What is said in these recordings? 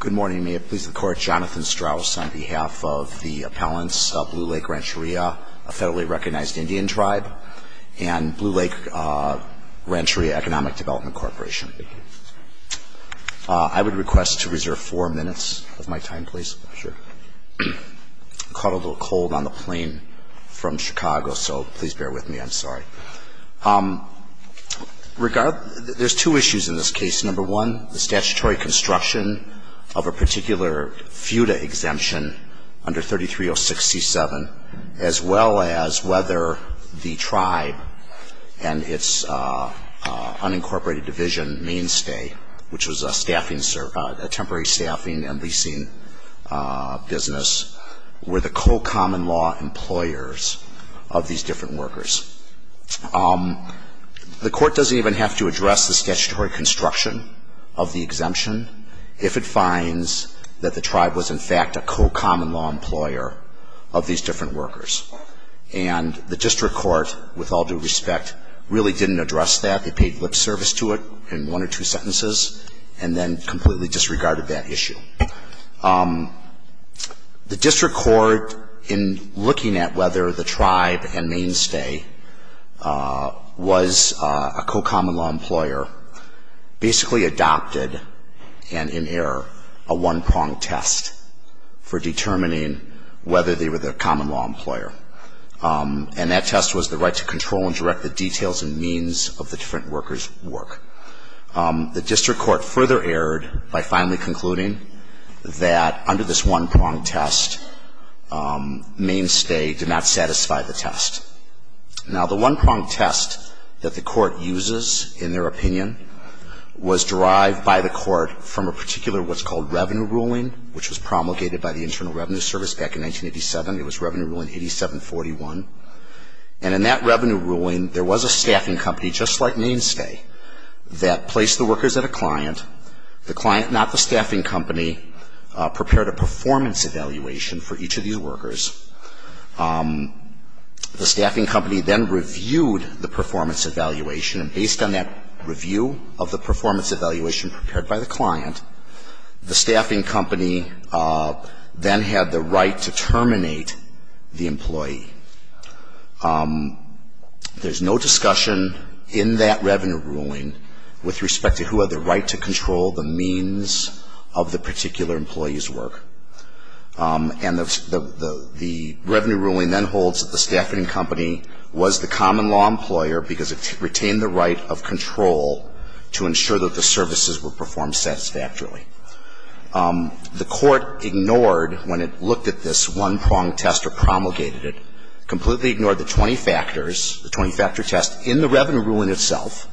Good morning. May it please the Court, Jonathan Strauss on behalf of the appellants of Blue Lake Rancheria, a federally recognized Indian tribe, and Blue Lake Rancheria Economic Development Corporation. I would request to reserve four minutes of my time, please. I caught a little cold on the plane from Chicago, so please bear with me, I'm sorry. There's two issues in this case. Number one, the statutory construction of a particular FUTA exemption under 33067, as well as whether the tribe and its unincorporated division mainstay, which was a temporary staffing and leasing business, were the co-common law employers of these different workers. The court doesn't even have to address the statutory construction of the exemption if it finds that the tribe was, in fact, a co-common law employer of these different workers. And the district court, with all due respect, really didn't address that. They paid lip service to it in one or two sentences, and then completely disregarded that issue. The district court, in looking at whether the tribe and mainstay was a co-common law employer, basically adopted, and in error, a one-prong test for determining whether they were the common law employer. And that test was the right to control and direct the details and means of the different workers' work. The one-prong test that the court uses, in their opinion, was derived by the court from a particular what's called revenue ruling, which was promulgated by the Internal Revenue Service back in 1987. It was revenue ruling 8741. And in that revenue ruling, there was a staffing company, just like mainstay, that prepared a performance evaluation for each of these workers. The staffing company then reviewed the performance evaluation, and based on that review of the performance evaluation prepared by the client, the staffing company then had the right to terminate the employee. There's no discussion in that revenue ruling with respect to who had the right to control the means of the particular employee's work. And the revenue ruling then holds that the staffing company was the common law employer because it retained the right of control to ensure that the services were performed satisfactorily. The court ignored, when it looked at this one-prong test or promulgated it, completely ignored the 20 factors, the 20-factor test in the revenue ruling itself,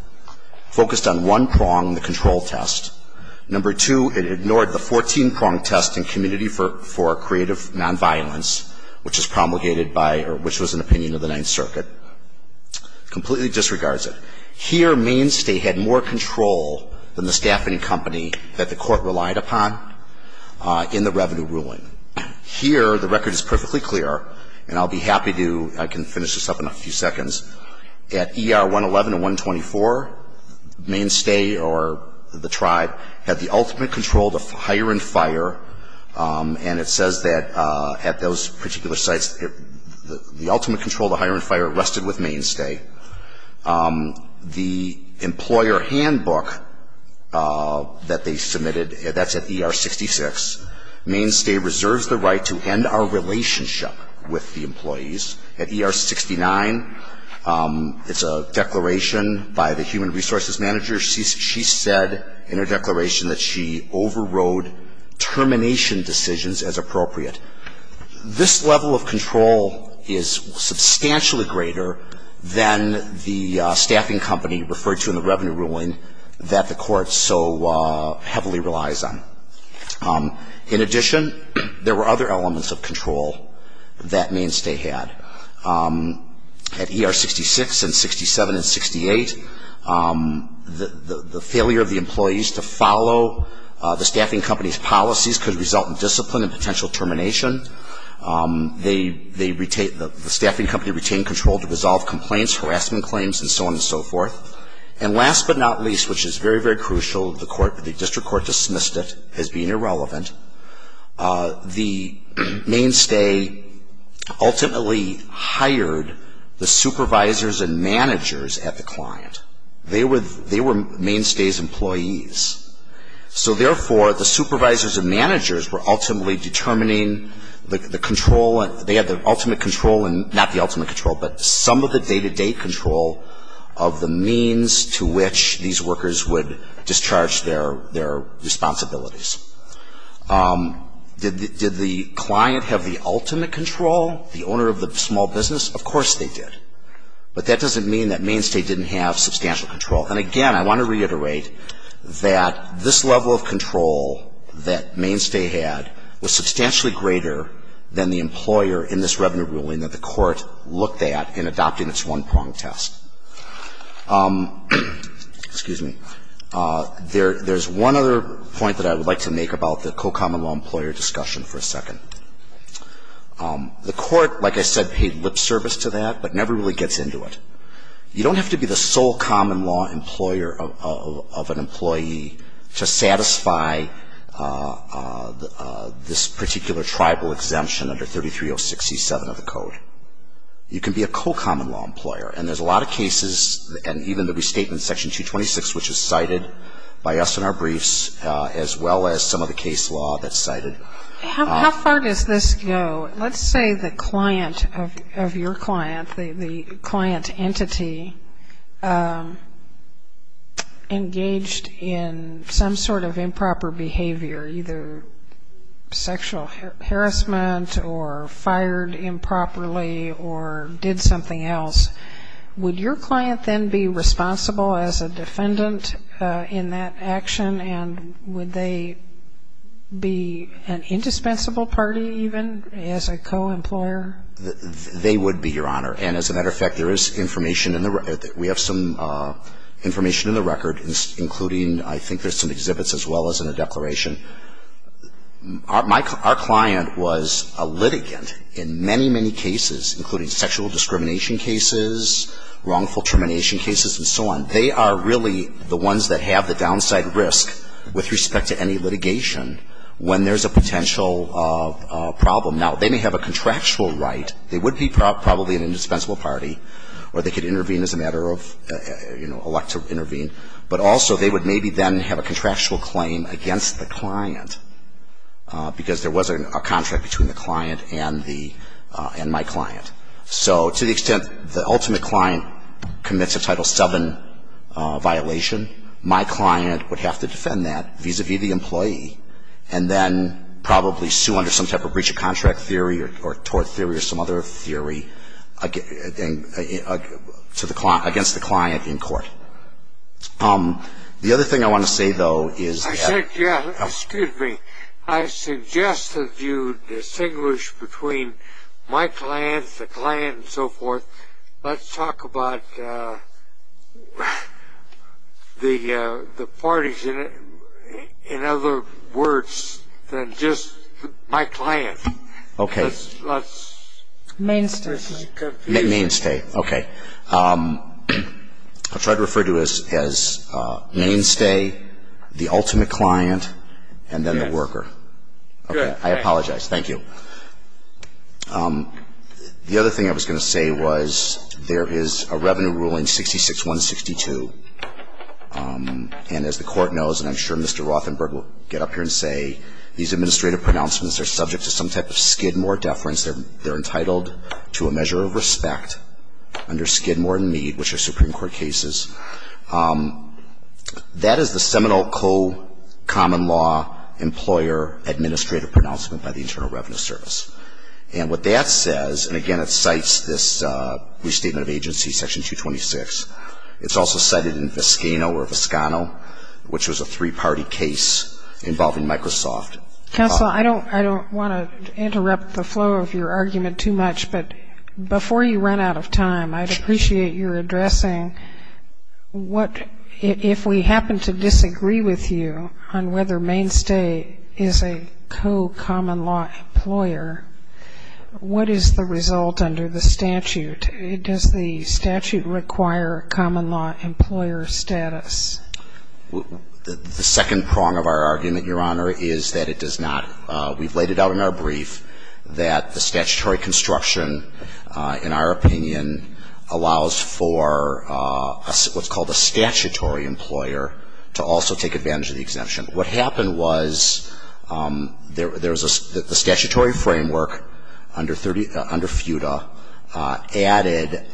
focused on one prong, the control test. Number two, it ignored the 14-prong test in community for creative nonviolence, which is promulgated by, or which was an opinion of the Ninth Circuit. Completely disregards it. Here, mainstay had more control than the staffing company that the court relied upon in the revenue ruling. Here, the record is perfectly clear, and I'll be happy to, I can finish this up in a few seconds. At ER 111 and 124, mainstay or the tribe had the ultimate control to hire and fire, and it says that at those particular sites, the ultimate control to hire and fire rested with mainstay. The employer handbook that they It's a declaration by the human resources manager. She said in her declaration that she overrode termination decisions as appropriate. This level of control is substantially greater than the staffing company referred to in the revenue ruling that the court so heavily relies on. In addition, there were other elements of control that mainstay had. At ER 66 and 67 and 68, the failure of the employees to follow the staffing company's policies could result in discipline and potential termination. They, they, the staffing company retained control to resolve complaints, harassment claims, and so on and so forth. And last but not least, which is very, very crucial, the court, the district court dismissed it as being hired the supervisors and managers at the client. They were, they were mainstay's employees. So therefore, the supervisors and managers were ultimately determining the control, they had the ultimate control, not the ultimate control, but some of the day-to-day control of the means to which these workers would discharge their, their responsibilities. Did, did the client have the ultimate control, the owner of the small business? Of course they did. But that doesn't mean that mainstay didn't have substantial control. And again, I want to reiterate that this level of control that mainstay had was substantially greater than the employer in this revenue ruling that the court looked at in adopting its one-pronged test. Excuse me. There, there's one other point that I would like to make about the co-common-law-employer discussion for a second. The court, like I said, paid lip service to that, but never really gets into it. You don't have to be the sole common-law-employer of, of, of an employee to satisfy this particular tribal exemption under 33067 of the code. You can be a co-common-law-employer, and there's a lot of cases, and even the restatement section 226, which is cited by us in our briefs, as well as some of the case law that's cited. How, how far does this go? Let's say the client of, of your client, the, the client entity engaged in some sort of improper behavior, either sexual harassment or fired improperly or did something else. Would your client then be responsible as a defendant in that action, and would they be an indispensable party even as a co-employer? They would be, Your Honor. And as a matter of fact, there is information in the record. We have some information in the record, including I think there's some exhibits as well as in the declaration. Our client was a litigant in many, many cases, including sexual discrimination cases, wrongful termination cases, and so on. They are really the ones that have the downside risk with respect to any litigation when there's a potential problem. Now, they may have a contractual right. They would be probably an indispensable party, or they could intervene as a matter of, you know, elect to intervene. But also, they would maybe then have a contractual claim against the client, because there was a contract between the client and the, and my client. So to the extent the ultimate client commits a Title VII violation, my client would have to defend that vis-à-vis the employee, and then The other thing I want to say, though, is that I said, yeah, excuse me. I suggest that you distinguish between my client, the client, and so forth. Let's talk about the parties in other words than just my client. Okay. Let's Mainstay. Mainstay. Okay. I'll try to refer to it as Mainstay, the ultimate client, and then the worker. Okay. I apologize. Thank you. The other thing I was going to say was there is a revenue ruling 66-162, and as the Court knows, and I'm sure Mr. Rothenberg will get up here and say, these administrative pronouncements are subject to some type of Skidmore deference. They're entitled to a measure of respect under Skidmore and Mead, which are Supreme Court cases. That is the seminal co-common law employer administrative pronouncement by the Internal Revenue Service. And what that says, and again, it cites this restatement of agency, Section 226. It's also cited in Foscano, which was a three-party case involving Microsoft. Counsel, I don't want to interrupt the flow of your argument too much, but before you run out of time, I'd appreciate your addressing what, if we happen to disagree with you on whether Mainstay is a co-common law employer, what is the result under the statute? Does the statute require common law employer status? The second prong of our argument, Your Honor, is that it does not. We've laid it out in our brief that the statutory construction, in our opinion, allows for what's called a statutory employer to also take advantage of the exemption. What happened was there was a statutory framework under FUTA added,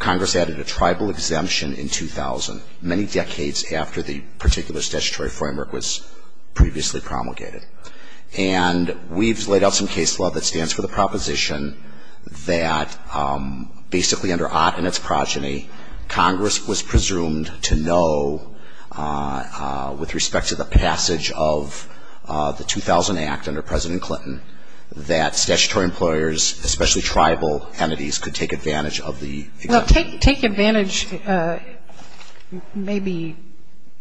Congress added a tribal exemption in 2000, many decades after the particular statutory framework was previously promulgated. And we've laid out some case law that stands for the proposition that basically under OTT and its progeny, Congress was presumed to know with respect to the passage of the 2000 Act under President Clinton that statutory employers, especially tribal entities, could take advantage of the exemption. Well, take advantage may be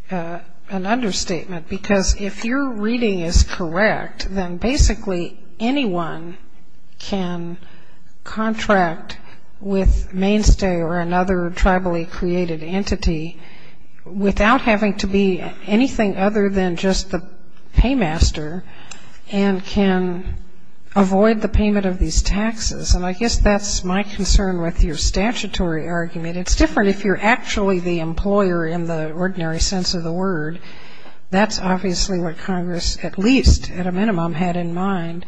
an understatement, because if your reading is correct, then basically anyone can contract with Mainstay or another tribally created entity without having to be anything other than just the paymaster and can avoid the payment of these taxes. And I guess that's my concern with your statutory argument. It's different if you're actually the employer in the ordinary sense of the word. That's obviously what Congress, at least at a minimum, had in mind.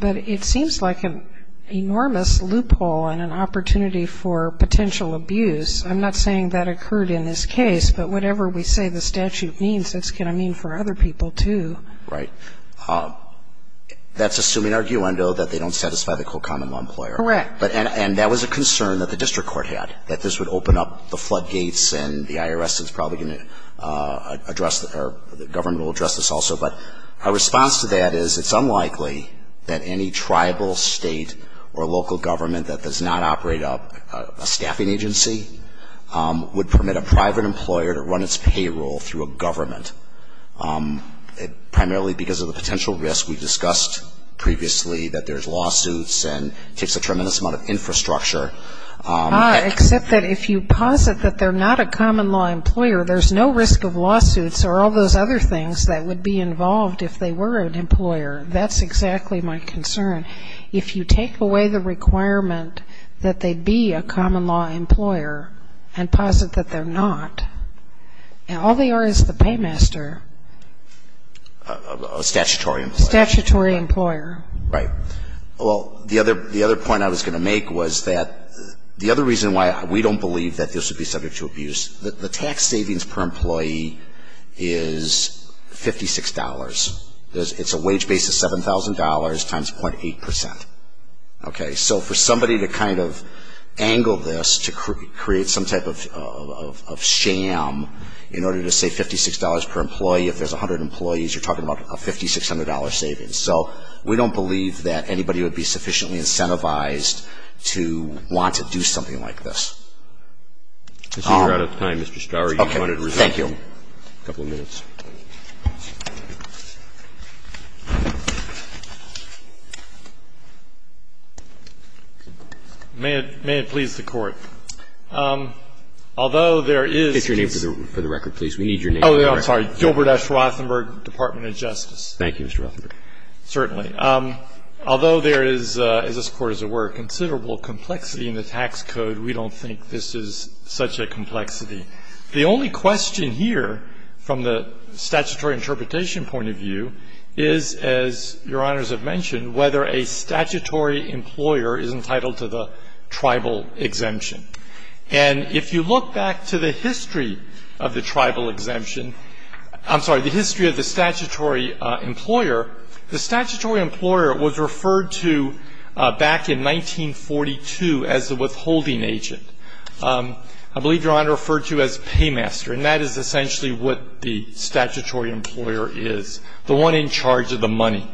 But it seems like an enormous loophole and an opportunity for potential abuse. I'm not saying that occurred in this case, but whatever we say the statute means, it's going to mean for other people, too. Right. That's assuming, arguendo, that they don't satisfy the common law employer. Correct. And that was a concern that the district court had, that this would open up the floodgates and the IRS is probably going to address, or the government will address this also. But our response to that is it's unlikely that any tribal state or local government that does not operate a staffing agency would permit a private employer to run its payroll through a government, primarily because of the potential risk we discussed previously, that there's lawsuits and takes a tremendous amount of infrastructure. Except that if you posit that they're not a common law employer, there's no risk of lawsuits or all those other things that would be involved if they were an employer. That's exactly my concern. If you take away the requirement that they be a common law employer and posit that they're not, all they are is the paymaster. A statutory employer. Statutory employer. Right. Well, the other point I was going to make was that the other reason why we don't believe that this would be subject to abuse, the tax savings per employee is $56. It's a wage base of $7,000 times 0.8%. Okay. So for somebody to kind of angle this to create some type of sham in order to save $56 per employee, if there's 100 employees, you're talking about a $5,600 savings. So we don't believe that anybody would be sufficiently incentivized to want to do something like this. I see you're out of time, Mr. Starr. Okay. Thank you. A couple of minutes. May it please the Court. Although there is this. State your name for the record, please. We need your name. Oh, I'm sorry. Gilbert S. Rothenberg, Department of Justice. Thank you, Mr. Rothenberg. Certainly. Although there is, as this Court as it were, considerable complexity in the tax code, we don't think this is such a complexity. The only question here from the statutory interpretation point of view is, as Your Honors have mentioned, whether a statutory employer is entitled to the tribal exemption. And if you look back to the history of the tribal exemption, I'm sorry, the history of the statutory employer, the statutory employer was referred to back in 1942 as the withholding agent. I believe Your Honor referred to as paymaster, and that is essentially what the statutory employer is, the one in charge of the money.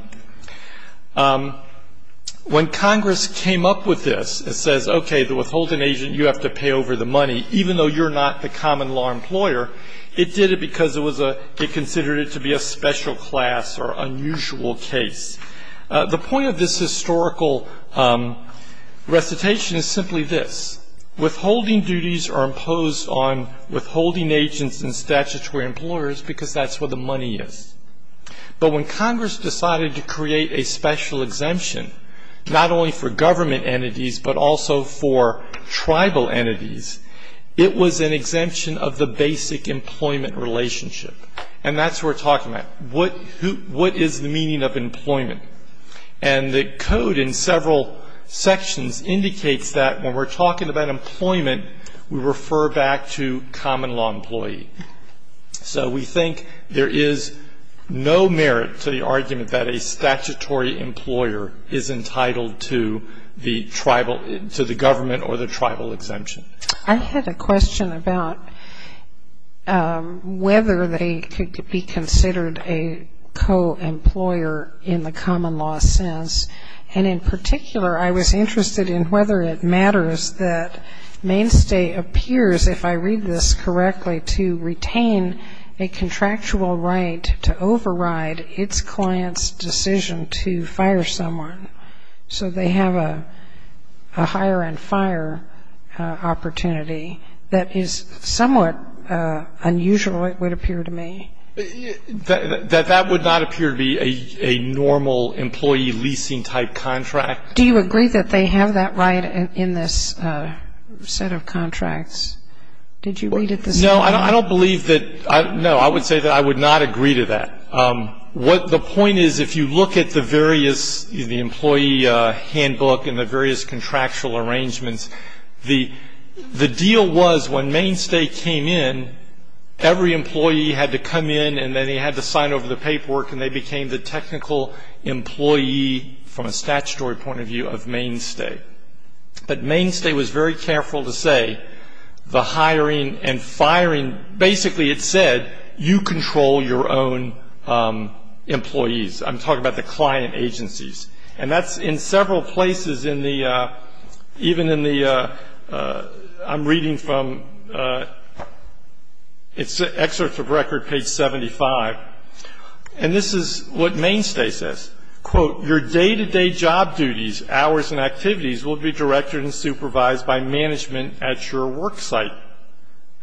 When Congress came up with this and says, okay, the withholding agent, you have to pay over the money, even though you're not the common law employer, it did it because it was a, it considered it to be a special class or unusual case. The point of this historical recitation is simply this. Withholding duties are imposed on withholding agents and statutory employers because that's where the money is. But when Congress decided to create a special exemption, not only for government entities but also for tribal entities, it was an exemption of the basic employment relationship. And that's what we're talking about. What is the meaning of employment? And the code in several sections indicates that when we're talking about employment, we refer back to common law employee. So we think there is no merit to the argument that a statutory employer is entitled to the tribal, to the government or the tribal exemption. I had a question about whether they could be considered a co-employer in the common law sense. And in particular, I was interested in whether it matters that mainstay appears, if I read this correctly, to retain a contractual right to override its client's decision to fire someone. So they have a hire and fire opportunity. That is somewhat unusual, it would appear to me. That that would not appear to be a normal employee leasing-type contract. Do you agree that they have that right in this set of contracts? Did you read it this morning? No, I don't believe that. No, I would say that I would not agree to that. The point is if you look at the various, the employee handbook and the various contractual arrangements, the deal was when mainstay came in, every employee had to come in and then they had to sign over the paperwork and they became the technical employee from a statutory point of view of mainstay. But mainstay was very careful to say the hiring and firing, basically it said, you control your own employees. I'm talking about the client agencies. And that's in several places in the, even in the, I'm reading from, it's excerpts of record, page 75. And this is what mainstay says, quote, your day-to-day job duties, hours, and activities will be directed and supervised by management at your work site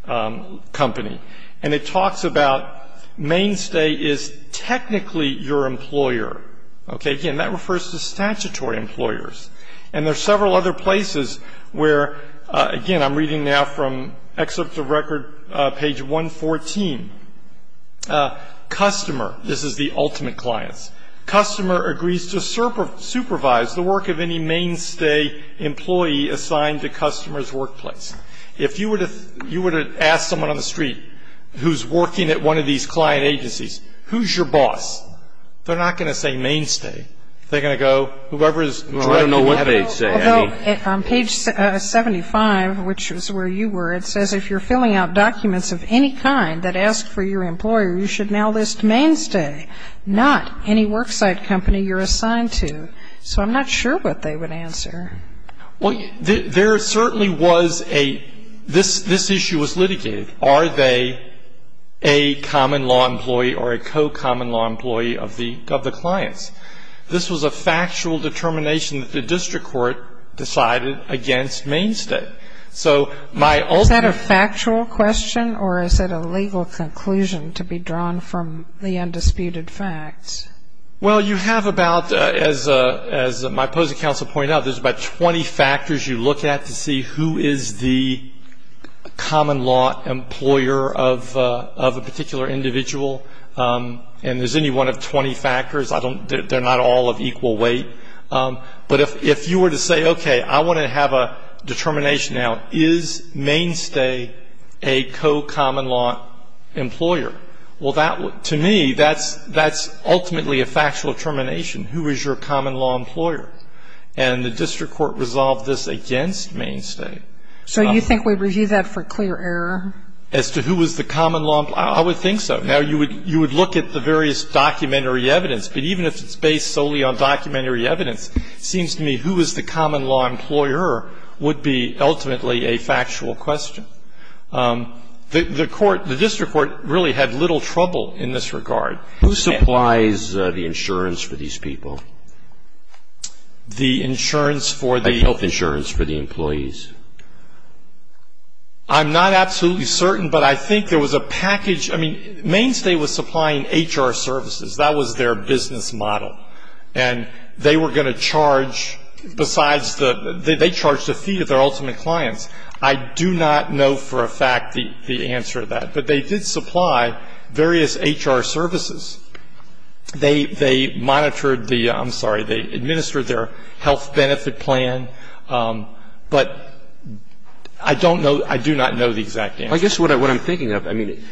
company. And it talks about mainstay is technically your employer. Okay. Again, that refers to statutory employers. And there are several other places where, again, I'm reading now from excerpts of record, page 114. Customer, this is the ultimate clients. Customer agrees to supervise the work of any mainstay employee assigned to customer's workplace. If you were to ask someone on the street who's working at one of these client agencies, who's your boss? They're not going to say mainstay. They're going to go, whoever is directing that. Well, I don't know what they say. I mean. Well, on page 75, which is where you were, it says, if you're filling out documents of any kind that ask for your employer, you should now list mainstay, not any work site company you're assigned to. So I'm not sure what they would answer. Well, there certainly was a, this issue was litigated. Are they a common law employee or a co-common law employee of the clients? This was a factual determination that the district court decided against mainstay. So my ultimate. Is that a factual question or is it a legal conclusion to be drawn from the undisputed facts? Well, you have about, as my opposing counsel pointed out, there's about 20 factors you look at to see who is the common law employer of a particular individual. And there's any one of 20 factors. They're not all of equal weight. But if you were to say, okay, I want to have a determination now. Is mainstay a co-common law employer? Well, that, to me, that's ultimately a factual determination. Who is your common law employer? And the district court resolved this against mainstay. So you think we review that for clear error? As to who is the common law, I would think so. Now, you would look at the various documentary evidence. But even if it's based solely on documentary evidence, it seems to me who is the common law employer would be ultimately a factual question. The court, the district court, really had little trouble in this regard. Who supplies the insurance for these people? The insurance for the? The health insurance for the employees. I'm not absolutely certain, but I think there was a package. I mean, mainstay was supplying HR services. That was their business model. And they were going to charge besides the, they charged a fee to their ultimate clients. I do not know for a fact the answer to that. But they did supply various HR services. They monitored the, I'm sorry, they administered their health benefit plan. But I don't know, I do not know the exact answer. I guess what I'm thinking of, I mean,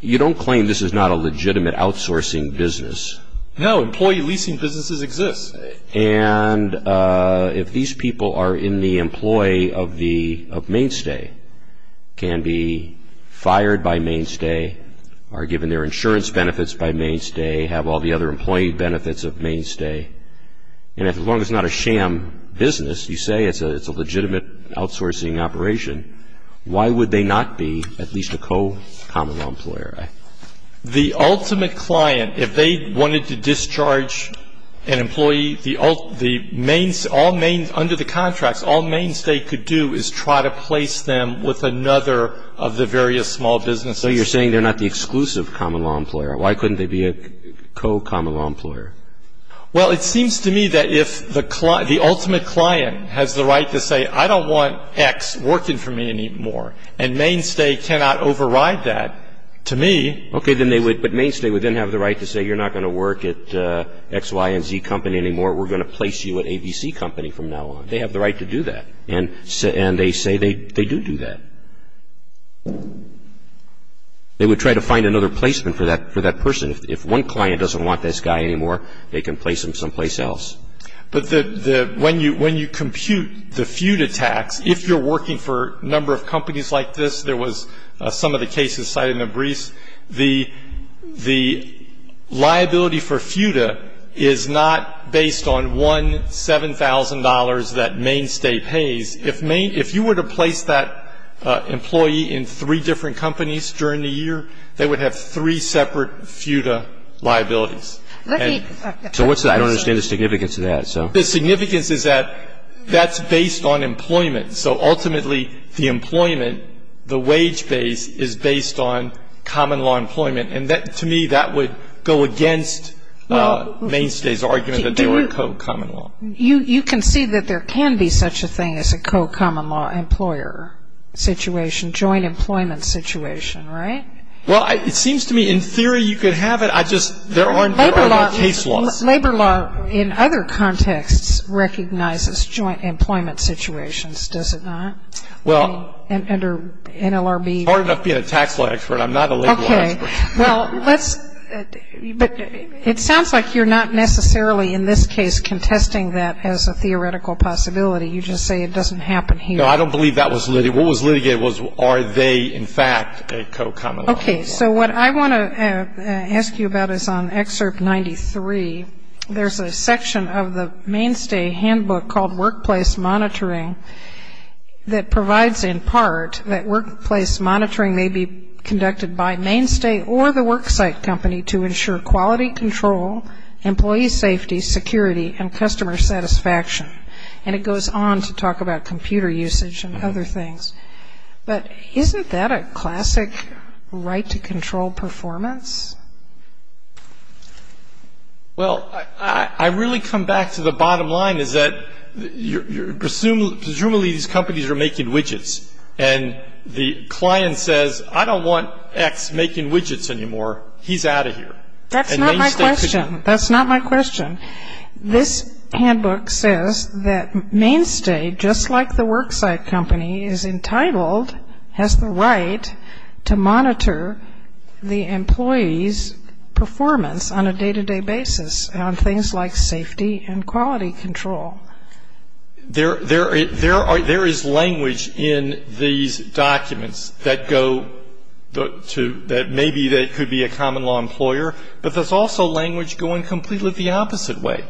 you don't claim this is not a legitimate outsourcing business. No, employee leasing businesses exist. And if these people are in the employee of the, of mainstay, can be fired by mainstay, are given their insurance benefits by mainstay, have all the other employee benefits of mainstay, and as long as it's not a sham business, you say it's a legitimate outsourcing operation, why would they not be at least a co-common law employer? The ultimate client, if they wanted to discharge an employee, the main, all main, under the contracts, all mainstay could do is try to place them with another of the various small businesses. So you're saying they're not the exclusive common law employer. Why couldn't they be a co-common law employer? Well, it seems to me that if the ultimate client has the right to say, I don't want X working for me anymore, and mainstay cannot override that, to me. Okay, then they would, but mainstay would then have the right to say, you're not going to work at X, Y, and Z company anymore, we're going to place you at ABC company from now on. They have the right to do that. And they say they do do that. They would try to find another placement for that person. If one client doesn't want this guy anymore, they can place him someplace else. But the, when you compute the feud attacks, if you're working for a number of companies like this, there was some of the cases cited in the briefs, the liability for feuda is not based on one $7,000 that mainstay pays. If you were to place that employee in three different companies during the year, they would have three separate feuda liabilities. So what's the, I don't understand the significance of that, so. The significance is that that's based on employment. So ultimately, the employment, the wage base is based on common law employment. And to me, that would go against mainstay's argument that they were co-common law. You can see that there can be such a thing as a co-common law employer situation, joint employment situation, right? Well, it seems to me, in theory, you could have it. I just, there aren't case laws. Labor law, in other contexts, recognizes joint employment situations, does it not? Well. Under NLRB. It's hard enough being a tax law expert. I'm not a labor law expert. Okay. Well, let's, but it sounds like you're not necessarily, in this case, contesting that as a theoretical possibility. You just say it doesn't happen here. No, I don't believe that was litigated. What was litigated was are they, in fact, a co-common law. Okay, so what I want to ask you about is on Excerpt 93, there's a section of the mainstay handbook called Workplace Monitoring that provides, in part, that workplace monitoring may be conducted by mainstay or the worksite company to ensure quality control, employee safety, security, and customer satisfaction. And it goes on to talk about computer usage and other things. But isn't that a classic right to control performance? Well, I really come back to the bottom line is that presumably these companies are making widgets, and the client says, I don't want X making widgets anymore. He's out of here. That's not my question. That's not my question. This handbook says that mainstay, just like the worksite company, is entitled, has the right to monitor the employee's performance on a day-to-day basis on things like safety and quality control. There is language in these documents that go to, that maybe they could be a common law employer, but there's also language going completely the opposite way.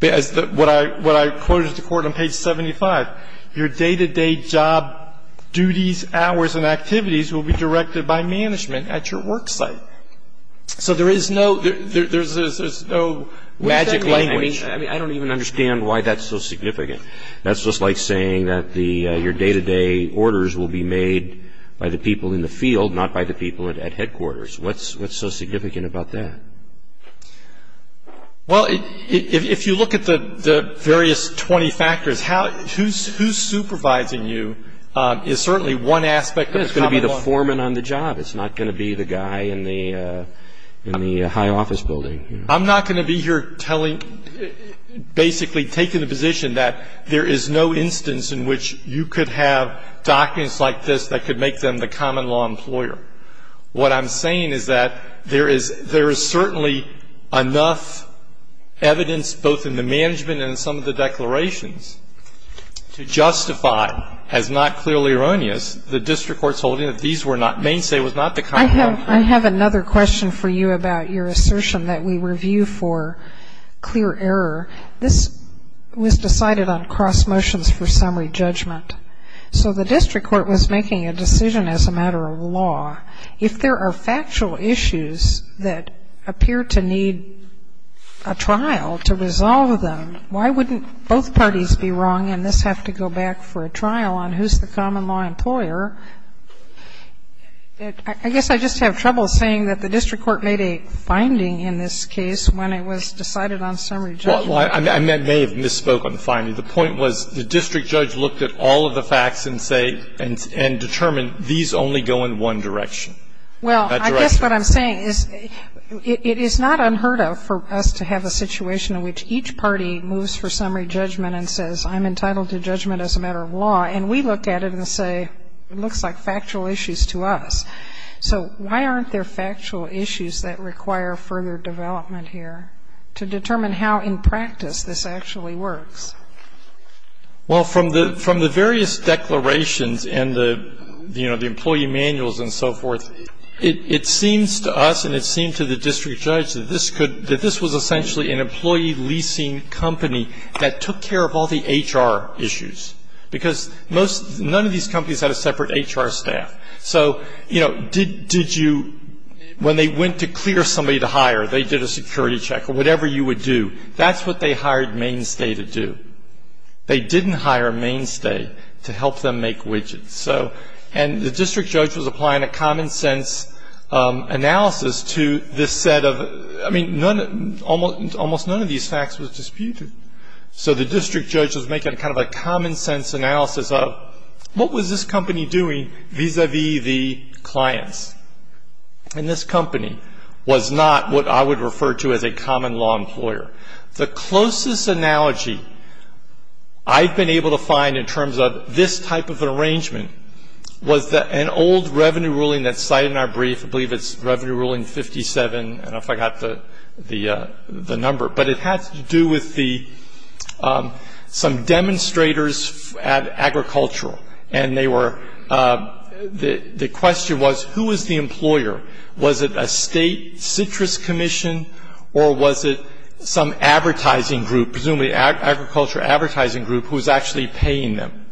What I quoted to court on page 75, your day-to-day job duties, hours, and activities will be directed by management at your worksite. So there is no magic language. I mean, I don't even understand why that's so significant. That's just like saying that your day-to-day orders will be made by the people in the field, not by the people at headquarters. What's so significant about that? Well, if you look at the various 20 factors, who's supervising you is certainly one aspect of the common law. It's going to be the foreman on the job. It's not going to be the guy in the high office building. I'm not going to be here telling, basically taking the position that there is no instance in which you could have documents like this that could make them the common law employer. What I'm saying is that there is certainly enough evidence both in the management and in some of the declarations to justify, as not clearly erroneous, the district court's holding that these were not the mainstay was not the common law. I have another question for you about your assertion that we review for clear error. This was decided on cross motions for summary judgment. So the district court was making a decision as a matter of law. If there are factual issues that appear to need a trial to resolve them, why wouldn't both parties be wrong and this have to go back for a trial on who's the common law employer? I guess I just have trouble saying that the district court made a finding in this case when it was decided on summary judgment. Well, I may have misspoke on the finding. The point was the district judge looked at all of the facts and say and determined these only go in one direction. Well, I guess what I'm saying is it is not unheard of for us to have a situation in which each party moves for summary judgment and says I'm entitled to judgment as a matter of law and we look at it and say it looks like factual issues to us. So why aren't there factual issues that require further development here to determine how in practice this actually works? Well, from the various declarations and the employee manuals and so forth, it seems to us and it seemed to the district judge that this was essentially an employee leasing company that took care of all the HR issues, because none of these companies had a separate HR staff. So, you know, did you, when they went to clear somebody to hire, they did a security check or whatever you would do. That's what they hired Mainstay to do. They didn't hire Mainstay to help them make widgets. And the district judge was applying a common sense analysis to this set of, I mean, almost none of these facts was disputed. So the district judge was making kind of a common sense analysis of what was this company doing vis-a-vis the clients. And this company was not what I would refer to as a common law employer. The closest analogy I've been able to find in terms of this type of an arrangement was an old revenue ruling that's cited in our brief. I believe it's Revenue Ruling 57. I don't know if I got the number. But it had to do with some demonstrators at Agricultural. And they were, the question was, who was the employer? Was it a state citrus commission or was it some advertising group, presumably agriculture advertising group, who was actually paying them?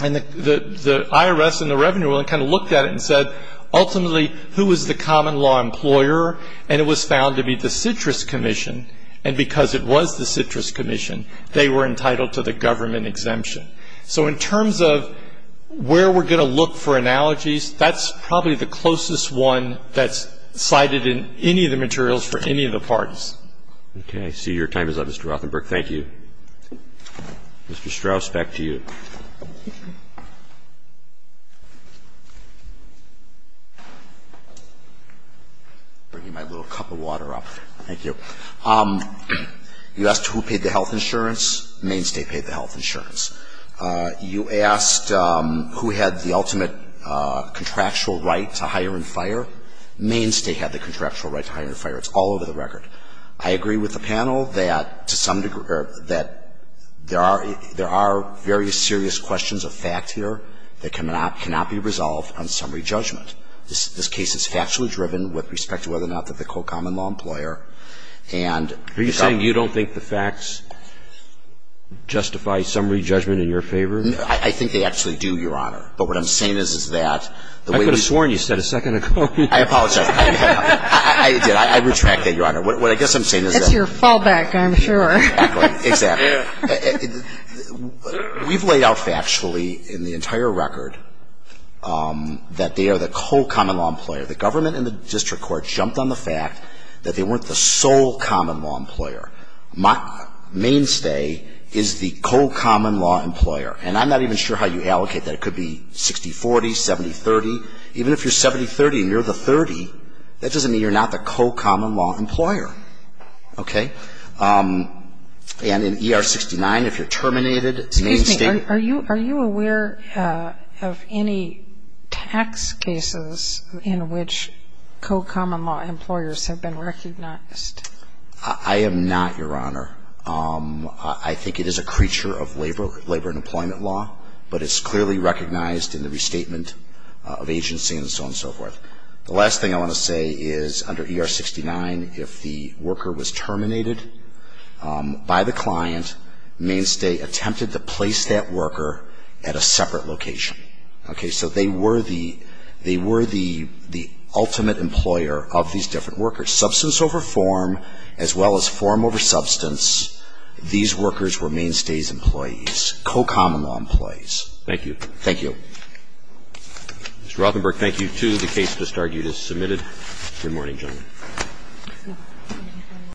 And the IRS and the Revenue Ruling kind of looked at it and said, ultimately, who is the common law employer? And it was found to be the citrus commission. And because it was the citrus commission, they were entitled to the government exemption. So in terms of where we're going to look for analogies, that's probably the closest one that's cited in any of the materials for any of the parties. Okay. I see your time is up, Mr. Rothenberg. Thank you. Mr. Strauss, back to you. I'm bringing my little cup of water up. Thank you. You asked who paid the health insurance. Main State paid the health insurance. You asked who had the ultimate contractual right to hire and fire. Main State had the contractual right to hire and fire. It's all over the record. I agree with the panel that, to some degree, that there are various serious questions of fact here that cannot be resolved on summary judgment. This case is factually driven with respect to whether or not they're the co-common law employer. Are you saying you don't think the facts justify summary judgment in your favor? I think they actually do, Your Honor. But what I'm saying is, is that the way we ---- I could have sworn you said a second ago. I apologize. I did. I retract that, Your Honor. What I guess I'm saying is that ---- It's your fallback, I'm sure. Exactly. Exactly. We've laid out factually in the entire record that they are the co-common law employer. The government and the district court jumped on the fact that they weren't the sole common law employer. Main State is the co-common law employer. And I'm not even sure how you allocate that. It could be 60-40, 70-30. Even if you're 70-30 and you're the 30, that doesn't mean you're not the co-common law employer. Okay? And in ER-69, if you're terminated, Main State ---- co-common law employers have been recognized. I am not, Your Honor. I think it is a creature of labor and employment law. But it's clearly recognized in the restatement of agency and so on and so forth. The last thing I want to say is under ER-69, if the worker was terminated by the client, Main State attempted to place that worker at a separate location. Okay? So they were the ultimate employer of these different workers. Substance over form, as well as form over substance, these workers were Main State's employees, co-common law employees. Thank you. Thank you. Mr. Rothenberg, thank you, too. The case just argued is submitted. Good morning, gentlemen.